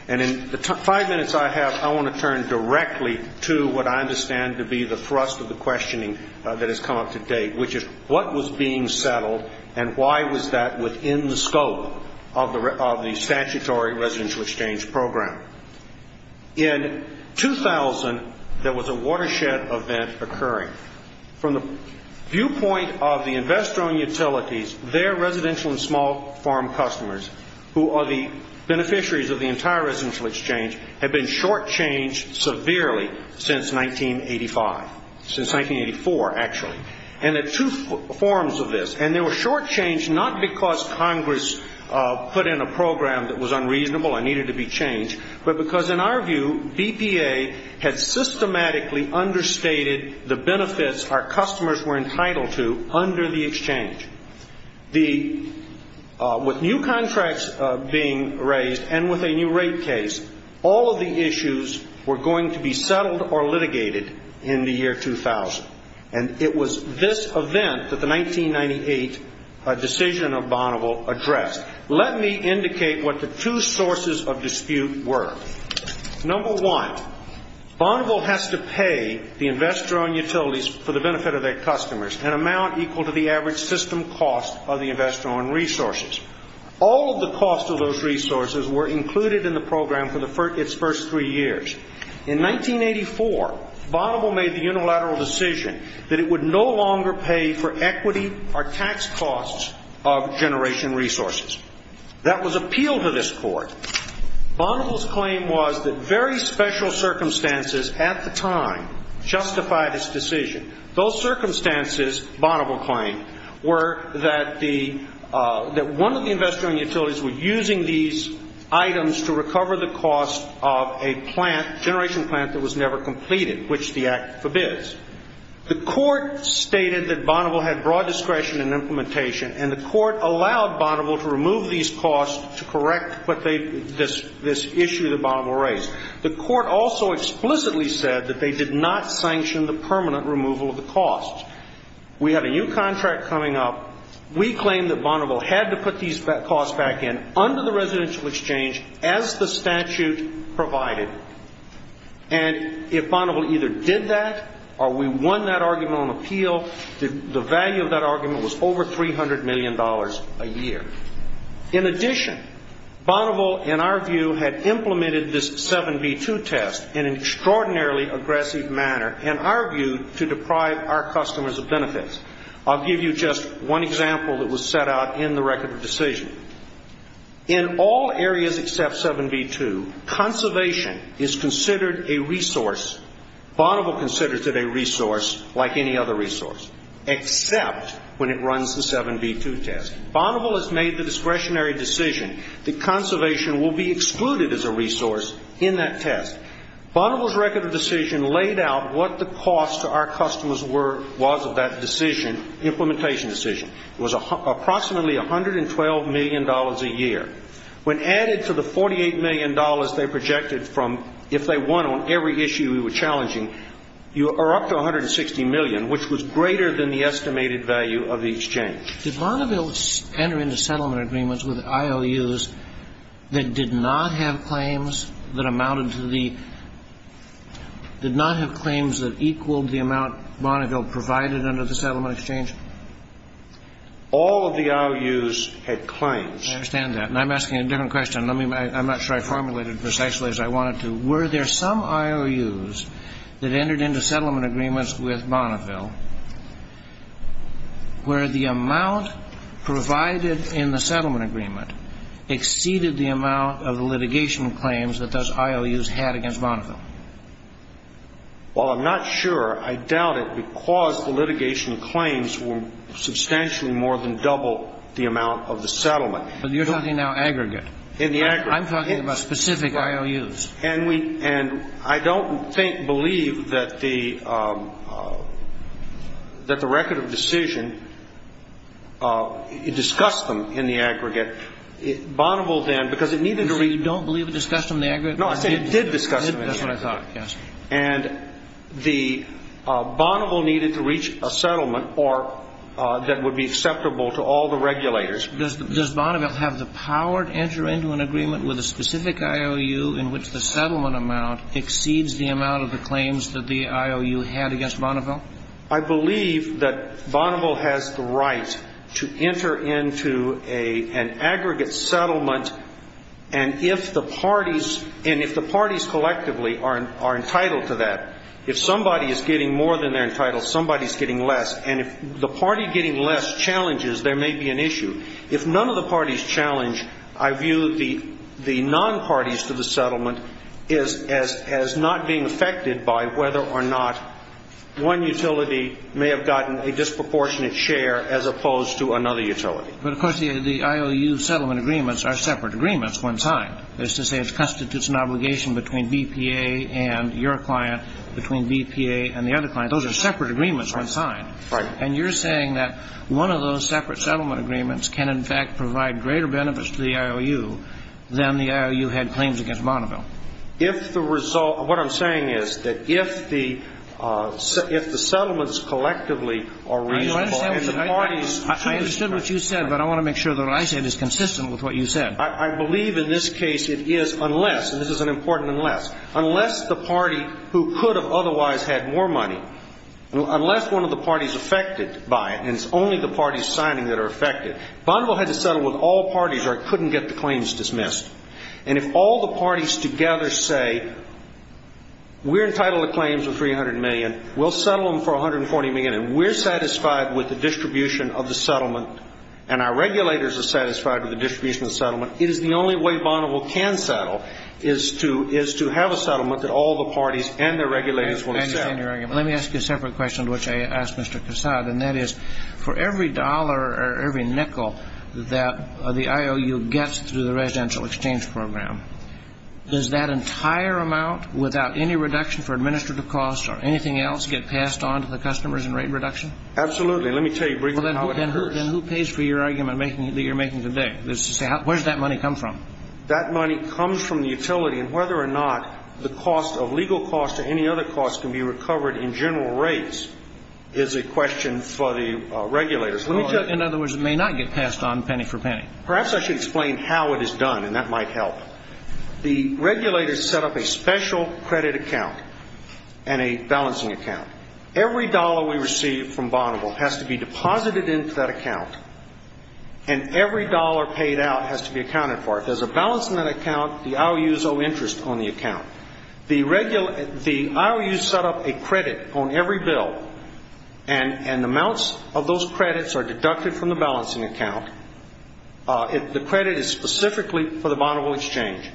And in the five minutes I have, I want to turn directly to what I understand to be the thrust of the questioning that has come up to date, which is what was being settled and why was that within the scope of the statutory residential exchange program. In 2000, there was a watershed event occurring. From the viewpoint of the Investor-Owned Utilities, their residential and small farm customers, who are the beneficiaries of the entire residential exchange, have been shortchanged severely since 1985. Since 1984, actually. And there are two forms of this. And they were shortchanged not because Congress put in a program that was unreasonable and needed to be changed, but because, in our view, BPA had systematically understated the benefits our customers were entitled to under the exchange. With new contracts being raised and with a new rate case, all of the issues were going to be settled or litigated in the year 2000. And it was this event that the 1998 decision of Bonneville addressed. Let me indicate what the two sources of dispute were. Number one, Bonneville has to pay the Investor-Owned Utilities for the benefit of their customers, an amount equal to the average system cost of the Investor-Owned Resources. All of the costs of those resources were included in the program for its first three years. In 1984, Bonneville made the unilateral decision that it would no longer pay for equity or tax costs of generation resources. That was appealed to this court. Bonneville's claim was that very special circumstances at the time justified its decision. Those circumstances, Bonneville claimed, were that one of the Investor-Owned Utilities were using these items to recover the cost of a generation plant that was never completed, which the Act forbids. The court stated that Bonneville had broad discretion in implementation, and the court allowed Bonneville to remove these costs to correct this issue that Bonneville raised. The court also explicitly said that they did not sanction the permanent removal of the costs. We have a new contract coming up. We claim that Bonneville had to put these costs back in under the residential exchange as the statute provided. And if Bonneville either did that or we won that argument on appeal, the value of that argument was over $300 million a year. In addition, Bonneville, in our view, had implemented this 7B2 test in an extraordinarily aggressive manner, in our view, to deprive our customers of benefits. I'll give you just one example that was set out in the record of decision. In all areas except 7B2, conservation is considered a resource, Bonneville considers it a resource like any other resource, except when it runs the 7B2 test. Bonneville has made the discretionary decision that conservation will be excluded as a resource in that test. Bonneville's record of decision laid out what the cost to our customers was of that decision, implementation decision. It was approximately $112 million a year. When added to the $48 million they projected from if they won on every issue we were challenging, you are up to $160 million, which was greater than the estimated value of the exchange. Did Bonneville enter into settlement agreements with IOUs that did not have claims that amounted to the – did not have claims that equaled the amount Bonneville provided under the settlement exchange? All of the IOUs had claims. I understand that. And I'm asking a different question. I'm not sure I formulated it precisely as I wanted to. Were there some IOUs that entered into settlement agreements with Bonneville where the amount provided in the settlement agreement exceeded the amount of litigation claims that those IOUs had against Bonneville? Well, I'm not sure. I doubt it because the litigation claims were substantially more than double the amount of the settlement. But you're talking now aggregate. In the aggregate. I'm talking about specific IOUs. And I don't believe that the record of decision discussed them in the aggregate. Bonneville then, because it needed to – You don't believe it discussed them in the aggregate? No, I said it did discuss them in the aggregate. That's what I thought, yes. And Bonneville needed to reach a settlement that would be acceptable to all the regulators. Does Bonneville have the power to enter into an agreement with a specific IOU in which the settlement amount exceeds the amount of the claims that the IOU had against Bonneville? I believe that Bonneville has the right to enter into an aggregate settlement. And if the parties collectively are entitled to that, if somebody is getting more than they're entitled, somebody's getting less. And if the party getting less challenges, there may be an issue. If none of the parties challenge, I view the non-parties to the settlement as not being affected by whether or not one utility may have gotten a disproportionate share as opposed to another utility. But, of course, the IOU settlement agreements are separate agreements when signed. That is to say it constitutes an obligation between BPA and your client, between BPA and the other client. Those are separate agreements when signed. Right. And you're saying that one of those separate settlement agreements can, in fact, provide greater benefits to the IOU than the IOU had claims against Bonneville. If the result of what I'm saying is that if the settlements collectively are reasonable and the parties I understand what you said, but I want to make sure that what I said is consistent with what you said. I believe in this case it is unless, and this is an important unless, unless the party who could have otherwise had more money, unless one of the parties affected by it, and it's only the parties signing that are affected, Bonneville had to settle with all parties or it couldn't get the claims dismissed. And if all the parties together say we're entitled to claims of $300 million, we'll settle them for $140 million, and we're satisfied with the distribution of the settlement and our regulators are satisfied with the distribution of the settlement, it is the only way Bonneville can settle is to have a settlement that all the parties and their regulators will accept. Let me ask you a separate question, which I asked Mr. Cassad, and that is for every dollar or every nickel that the IOU gets through the residential exchange program, does that entire amount, without any reduction for administrative costs or anything else, get passed on to the customers in rate reduction? Absolutely. Let me tell you briefly how it occurs. Then who pays for your argument that you're making today? Where does that money come from? That money comes from the utility, and whether or not the cost of legal costs or any other costs can be recovered in general rates is a question for the regulators. In other words, it may not get passed on penny for penny. Perhaps I should explain how it is done, and that might help. The regulators set up a special credit account and a balancing account. Every dollar we receive from Bonneville has to be deposited into that account, and every dollar paid out has to be accounted for. There's a balance in that account. The IOUs owe interest on the account. The IOUs set up a credit on every bill, and amounts of those credits are deducted from the balancing account. The credit is specifically for the Bonneville exchange,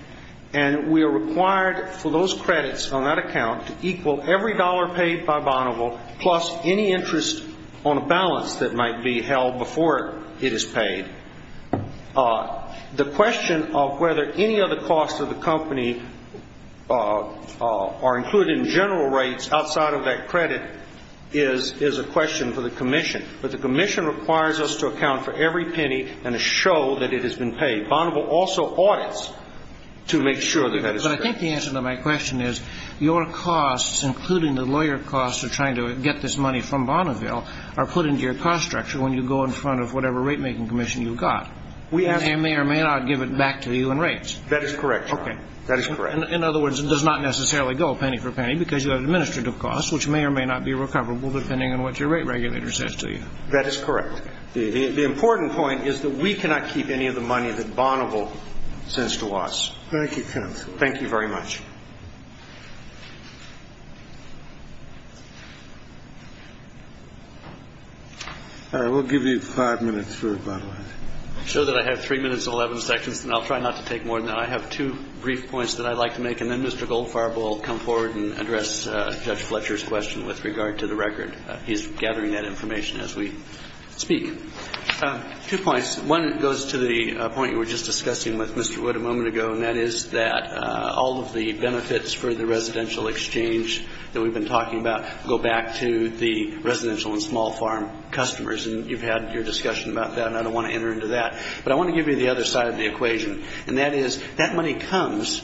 and we are required for those credits on that account to equal every dollar paid by Bonneville plus any interest on a balance that might be held before it is paid. The question of whether any other costs of the company are included in general rates outside of that credit is a question for the commission. But the commission requires us to account for every penny and to show that it has been paid. Bonneville also audits to make sure that that is true. So I think the answer to my question is your costs, including the lawyer costs of trying to get this money from Bonneville, are put into your cost structure when you go in front of whatever rate-making commission you've got. They may or may not give it back to you in rates. That is correct, Your Honor. Okay. That is correct. In other words, it does not necessarily go penny for penny because you have administrative costs, which may or may not be recoverable depending on what your rate regulator says to you. That is correct. The important point is that we cannot keep any of the money that Bonneville sends to us. Thank you, counsel. Thank you very much. All right. We'll give you five minutes for rebuttal. I'm sure that I have 3 minutes and 11 seconds, and I'll try not to take more than that. I have two brief points that I'd like to make, and then Mr. Goldfarb will come forward and address Judge Fletcher's question with regard to the record. He's gathering that information as we speak. Two points. One goes to the point you were just discussing with Mr. Wood a moment ago, and that is that all of the benefits for the residential exchange that we've been talking about go back to the residential and small farm customers. And you've had your discussion about that, and I don't want to enter into that. But I want to give you the other side of the equation, and that is that money comes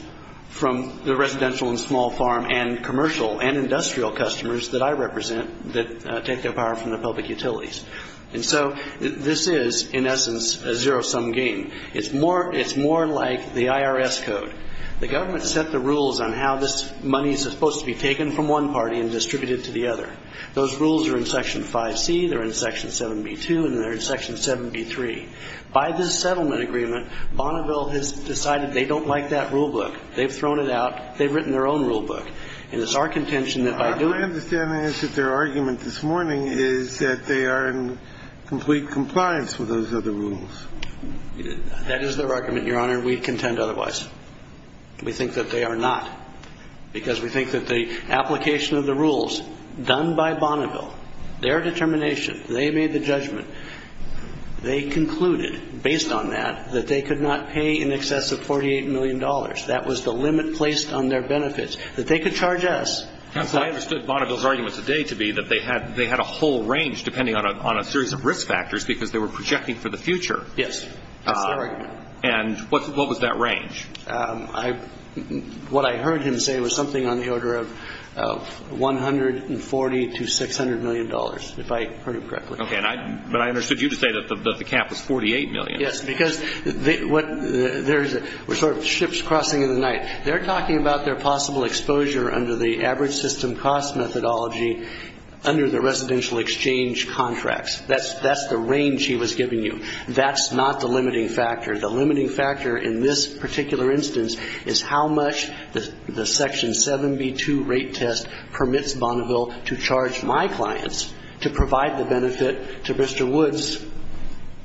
from the residential and small farm and commercial and industrial customers that I represent that take their power from the public utilities. And so this is, in essence, a zero-sum game. It's more like the IRS code. The government set the rules on how this money is supposed to be taken from one party and distributed to the other. Those rules are in Section 5C. They're in Section 7B2, and they're in Section 7B3. By this settlement agreement, Bonneville has decided they don't like that rulebook. They've thrown it out. They've written their own rulebook. That is their argument, Your Honor. We'd contend otherwise. We think that they are not, because we think that the application of the rules done by Bonneville, their determination, they made the judgment. They concluded, based on that, that they could not pay in excess of $48 million. That was the limit placed on their benefits, that they could charge us. So I understood Bonneville's argument today to be that they had a whole range, depending on a series of risk factors, because they were projecting for the future. Yes. That's their argument. And what was that range? What I heard him say was something on the order of $140 to $600 million, if I heard him correctly. Okay. But I understood you to say that the cap was $48 million. Yes, because we're sort of ships crossing in the night. They're talking about their possible exposure under the average system cost methodology under the residential exchange contracts. That's the range he was giving you. That's not the limiting factor. The limiting factor in this particular instance is how much the Section 7B2 rate test permits Bonneville to charge my clients to provide the benefit to Mr. Woods,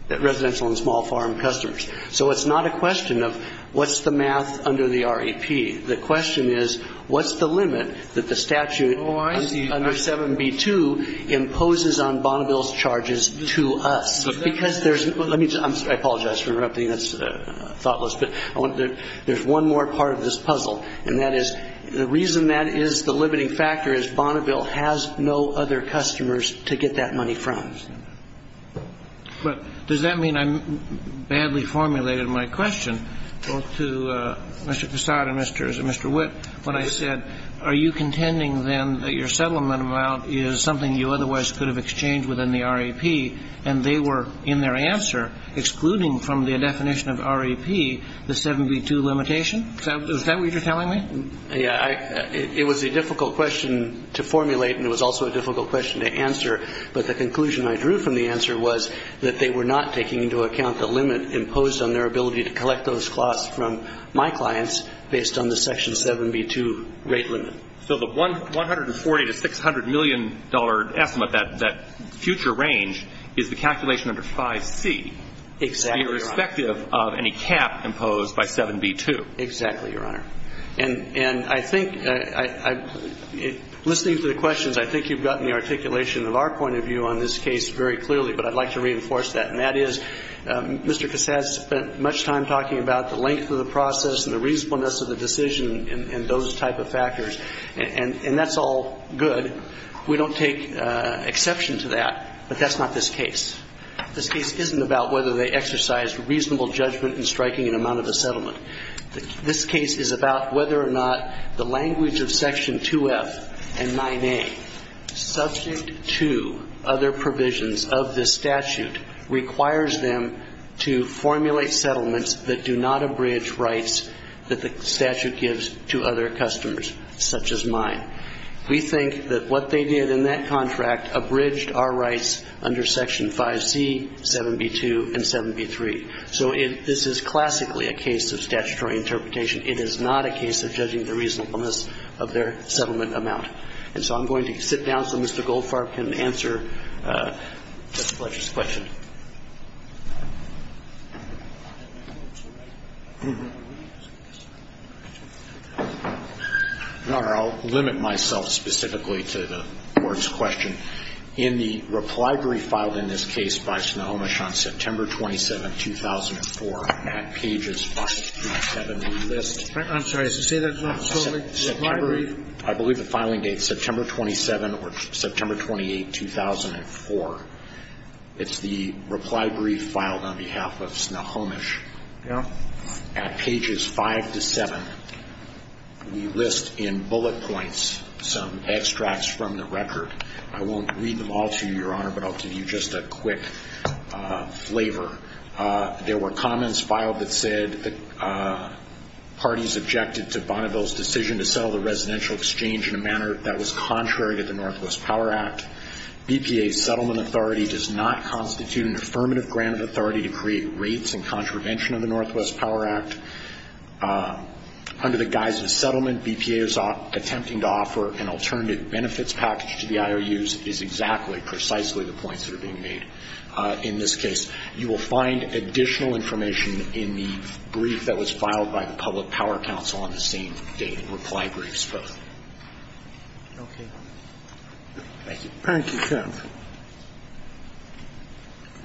the residential and small farm customers. So it's not a question of what's the math under the REP. The question is, what's the limit that the statute under 7B2 imposes on Bonneville's charges to us? Because there's – I apologize for interrupting. That's thoughtless. But there's one more part of this puzzle, and that is the reason that is the limiting factor is Bonneville has no other customers to get that money from. I understand that. But does that mean I badly formulated my question both to Mr. Fassad and Mr. Witt when I said, are you contending then that your settlement amount is something you otherwise could have exchanged within the REP, and they were, in their answer, excluding from the definition of REP the 7B2 limitation? Is that what you're telling me? Yeah. It was a difficult question to formulate, and it was also a difficult question to answer. But the conclusion I drew from the answer was that they were not taking into account the limit imposed on their ability to collect those costs from my clients based on the Section 7B2 rate limit. So the $140 to $600 million estimate, that future range, is the calculation under 5C. Exactly, Your Honor. Irrespective of any cap imposed by 7B2. Exactly, Your Honor. And I think, listening to the questions, I think you've gotten the articulation of our point of view on this case very clearly, but I'd like to reinforce that. And that is Mr. Fassad spent much time talking about the length of the process and the reasonableness of the decision and those type of factors. And that's all good. We don't take exception to that. But that's not this case. This case isn't about whether they exercised reasonable judgment in striking an amount of a settlement. This case is about whether or not the language of Section 2F and 9A, subject to other provisions of this statute, requires them to formulate settlements that do not abridge rights that the statute gives to other customers, such as mine. We think that what they did in that contract abridged our rights under Section 5C, 7B2, and 7B3. So this is classically a case of statutory interpretation. It is not a case of judging the reasonableness of their settlement amount. And so I'm going to sit down so Mr. Goldfarb can answer Judge Fletcher's question. Your Honor, I'll limit myself specifically to the Court's question. In the reply brief filed in this case by Snohomish on September 27, 2004, at pages 5 to 7, we list. I'm sorry. Say that slowly. Reply brief. I believe the filing date is September 27 or September 28, 2004. It's the reply brief filed on behalf of Snohomish. Yeah. At pages 5 to 7, we list in bullet points some extracts from the record. I won't read them all to you, Your Honor, but I'll give you just a quick flavor. There were comments filed that said that parties objected to Bonneville's decision to settle the residential exchange in a manner that was contrary to the Northwest Power Act. BPA's settlement authority does not constitute an affirmative grant of authority to create rates in contravention of the Northwest Power Act. Under the guise of settlement, BPA is attempting to offer an alternative benefits package to the IOUs is exactly, precisely the points that are being made in this case. You will find additional information in the brief that was filed by the Public Power Council on the same date, reply briefs both. Okay. Thank you. Thank you,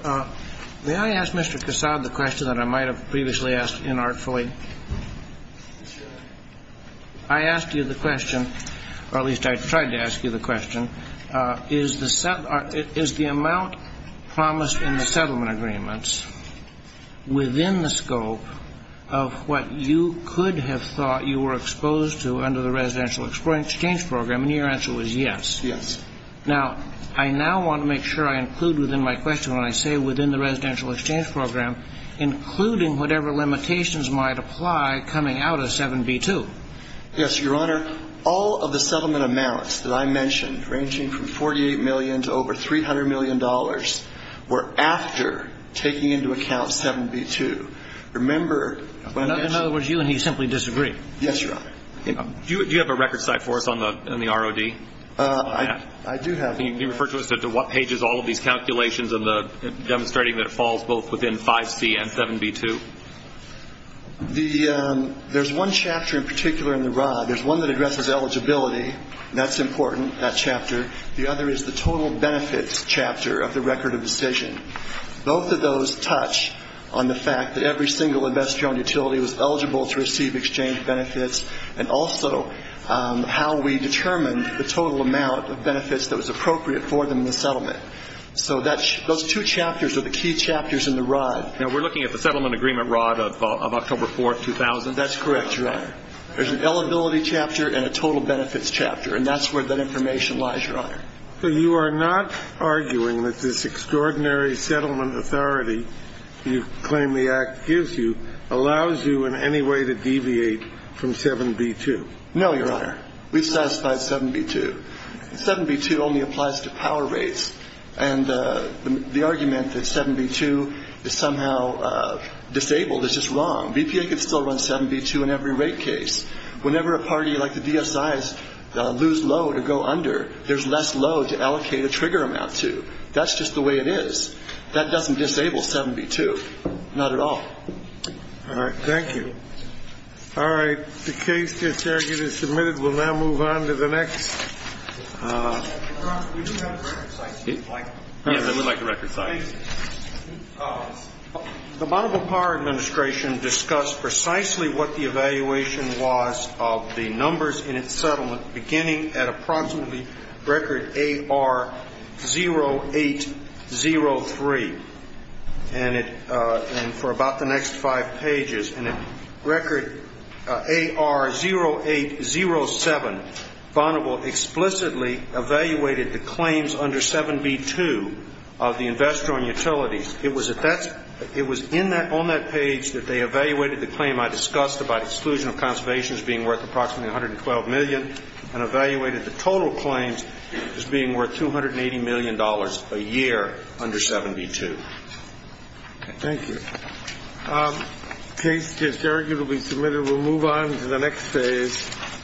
Judge. May I ask Mr. Cassad the question that I might have previously asked inartfully? I asked you the question, or at least I tried to ask you the question, is the amount promised in the settlement agreements within the scope of what you could have thought you were exposed to under the residential exchange program? And your answer was yes. Yes. Now, I now want to make sure I include within my question, when I say within the residential exchange program, including whatever limitations might apply coming out of 7b-2. Yes, Your Honor. All of the settlement amounts that I mentioned, ranging from $48 million to over $300 million, were after taking into account 7b-2. Remember when I asked you. In other words, you and he simply disagree. Yes, Your Honor. Do you have a record site for us on the ROD? I do have one. Can you refer to us as to what pages all of these calculations and demonstrating that it falls both within 5c and 7b-2? There's one chapter in particular in the ROD. There's one that addresses eligibility. That's important, that chapter. The other is the total benefits chapter of the record of decision. Both of those touch on the fact that every single investor-owned utility was eligible to receive exchange benefits and also how we determined the total amount of benefits that was appropriate for them in the settlement. So those two chapters are the key chapters in the ROD. Now, we're looking at the settlement agreement ROD of October 4, 2000. That's correct, Your Honor. There's an eligibility chapter and a total benefits chapter, and that's where that information lies, Your Honor. So you are not arguing that this extraordinary settlement authority you claim the Act gives you allows you in any way to deviate from 7b-2? No, Your Honor. We've satisfied 7b-2. 7b-2 only applies to power rates, and the argument that 7b-2 is somehow disabled is just wrong. BPA could still run 7b-2 in every rate case. Whenever a party like the DSIs lose load or go under, there's less load to allocate a trigger amount to. That's just the way it is. That doesn't disable 7b-2, not at all. All right. Thank you. All right. The case that's here is submitted. We'll now move on to the next. Your Honor, we do have a record site if you'd like. Yes, I would like the record site. The Bonneville Power Administration discussed precisely what the evaluation was of the numbers in its settlement beginning at approximately record AR 0803, and for about the next five pages. And at record AR 0807, Bonneville explicitly evaluated the claims under 7b-2 of the investor on utilities. It was on that page that they evaluated the claim I discussed about exclusion of conservation as being worth approximately $112 million and evaluated the total claims as being worth $280 million a year under 7b-2. Thank you. The case is arguably submitted. We'll move on to the next phase.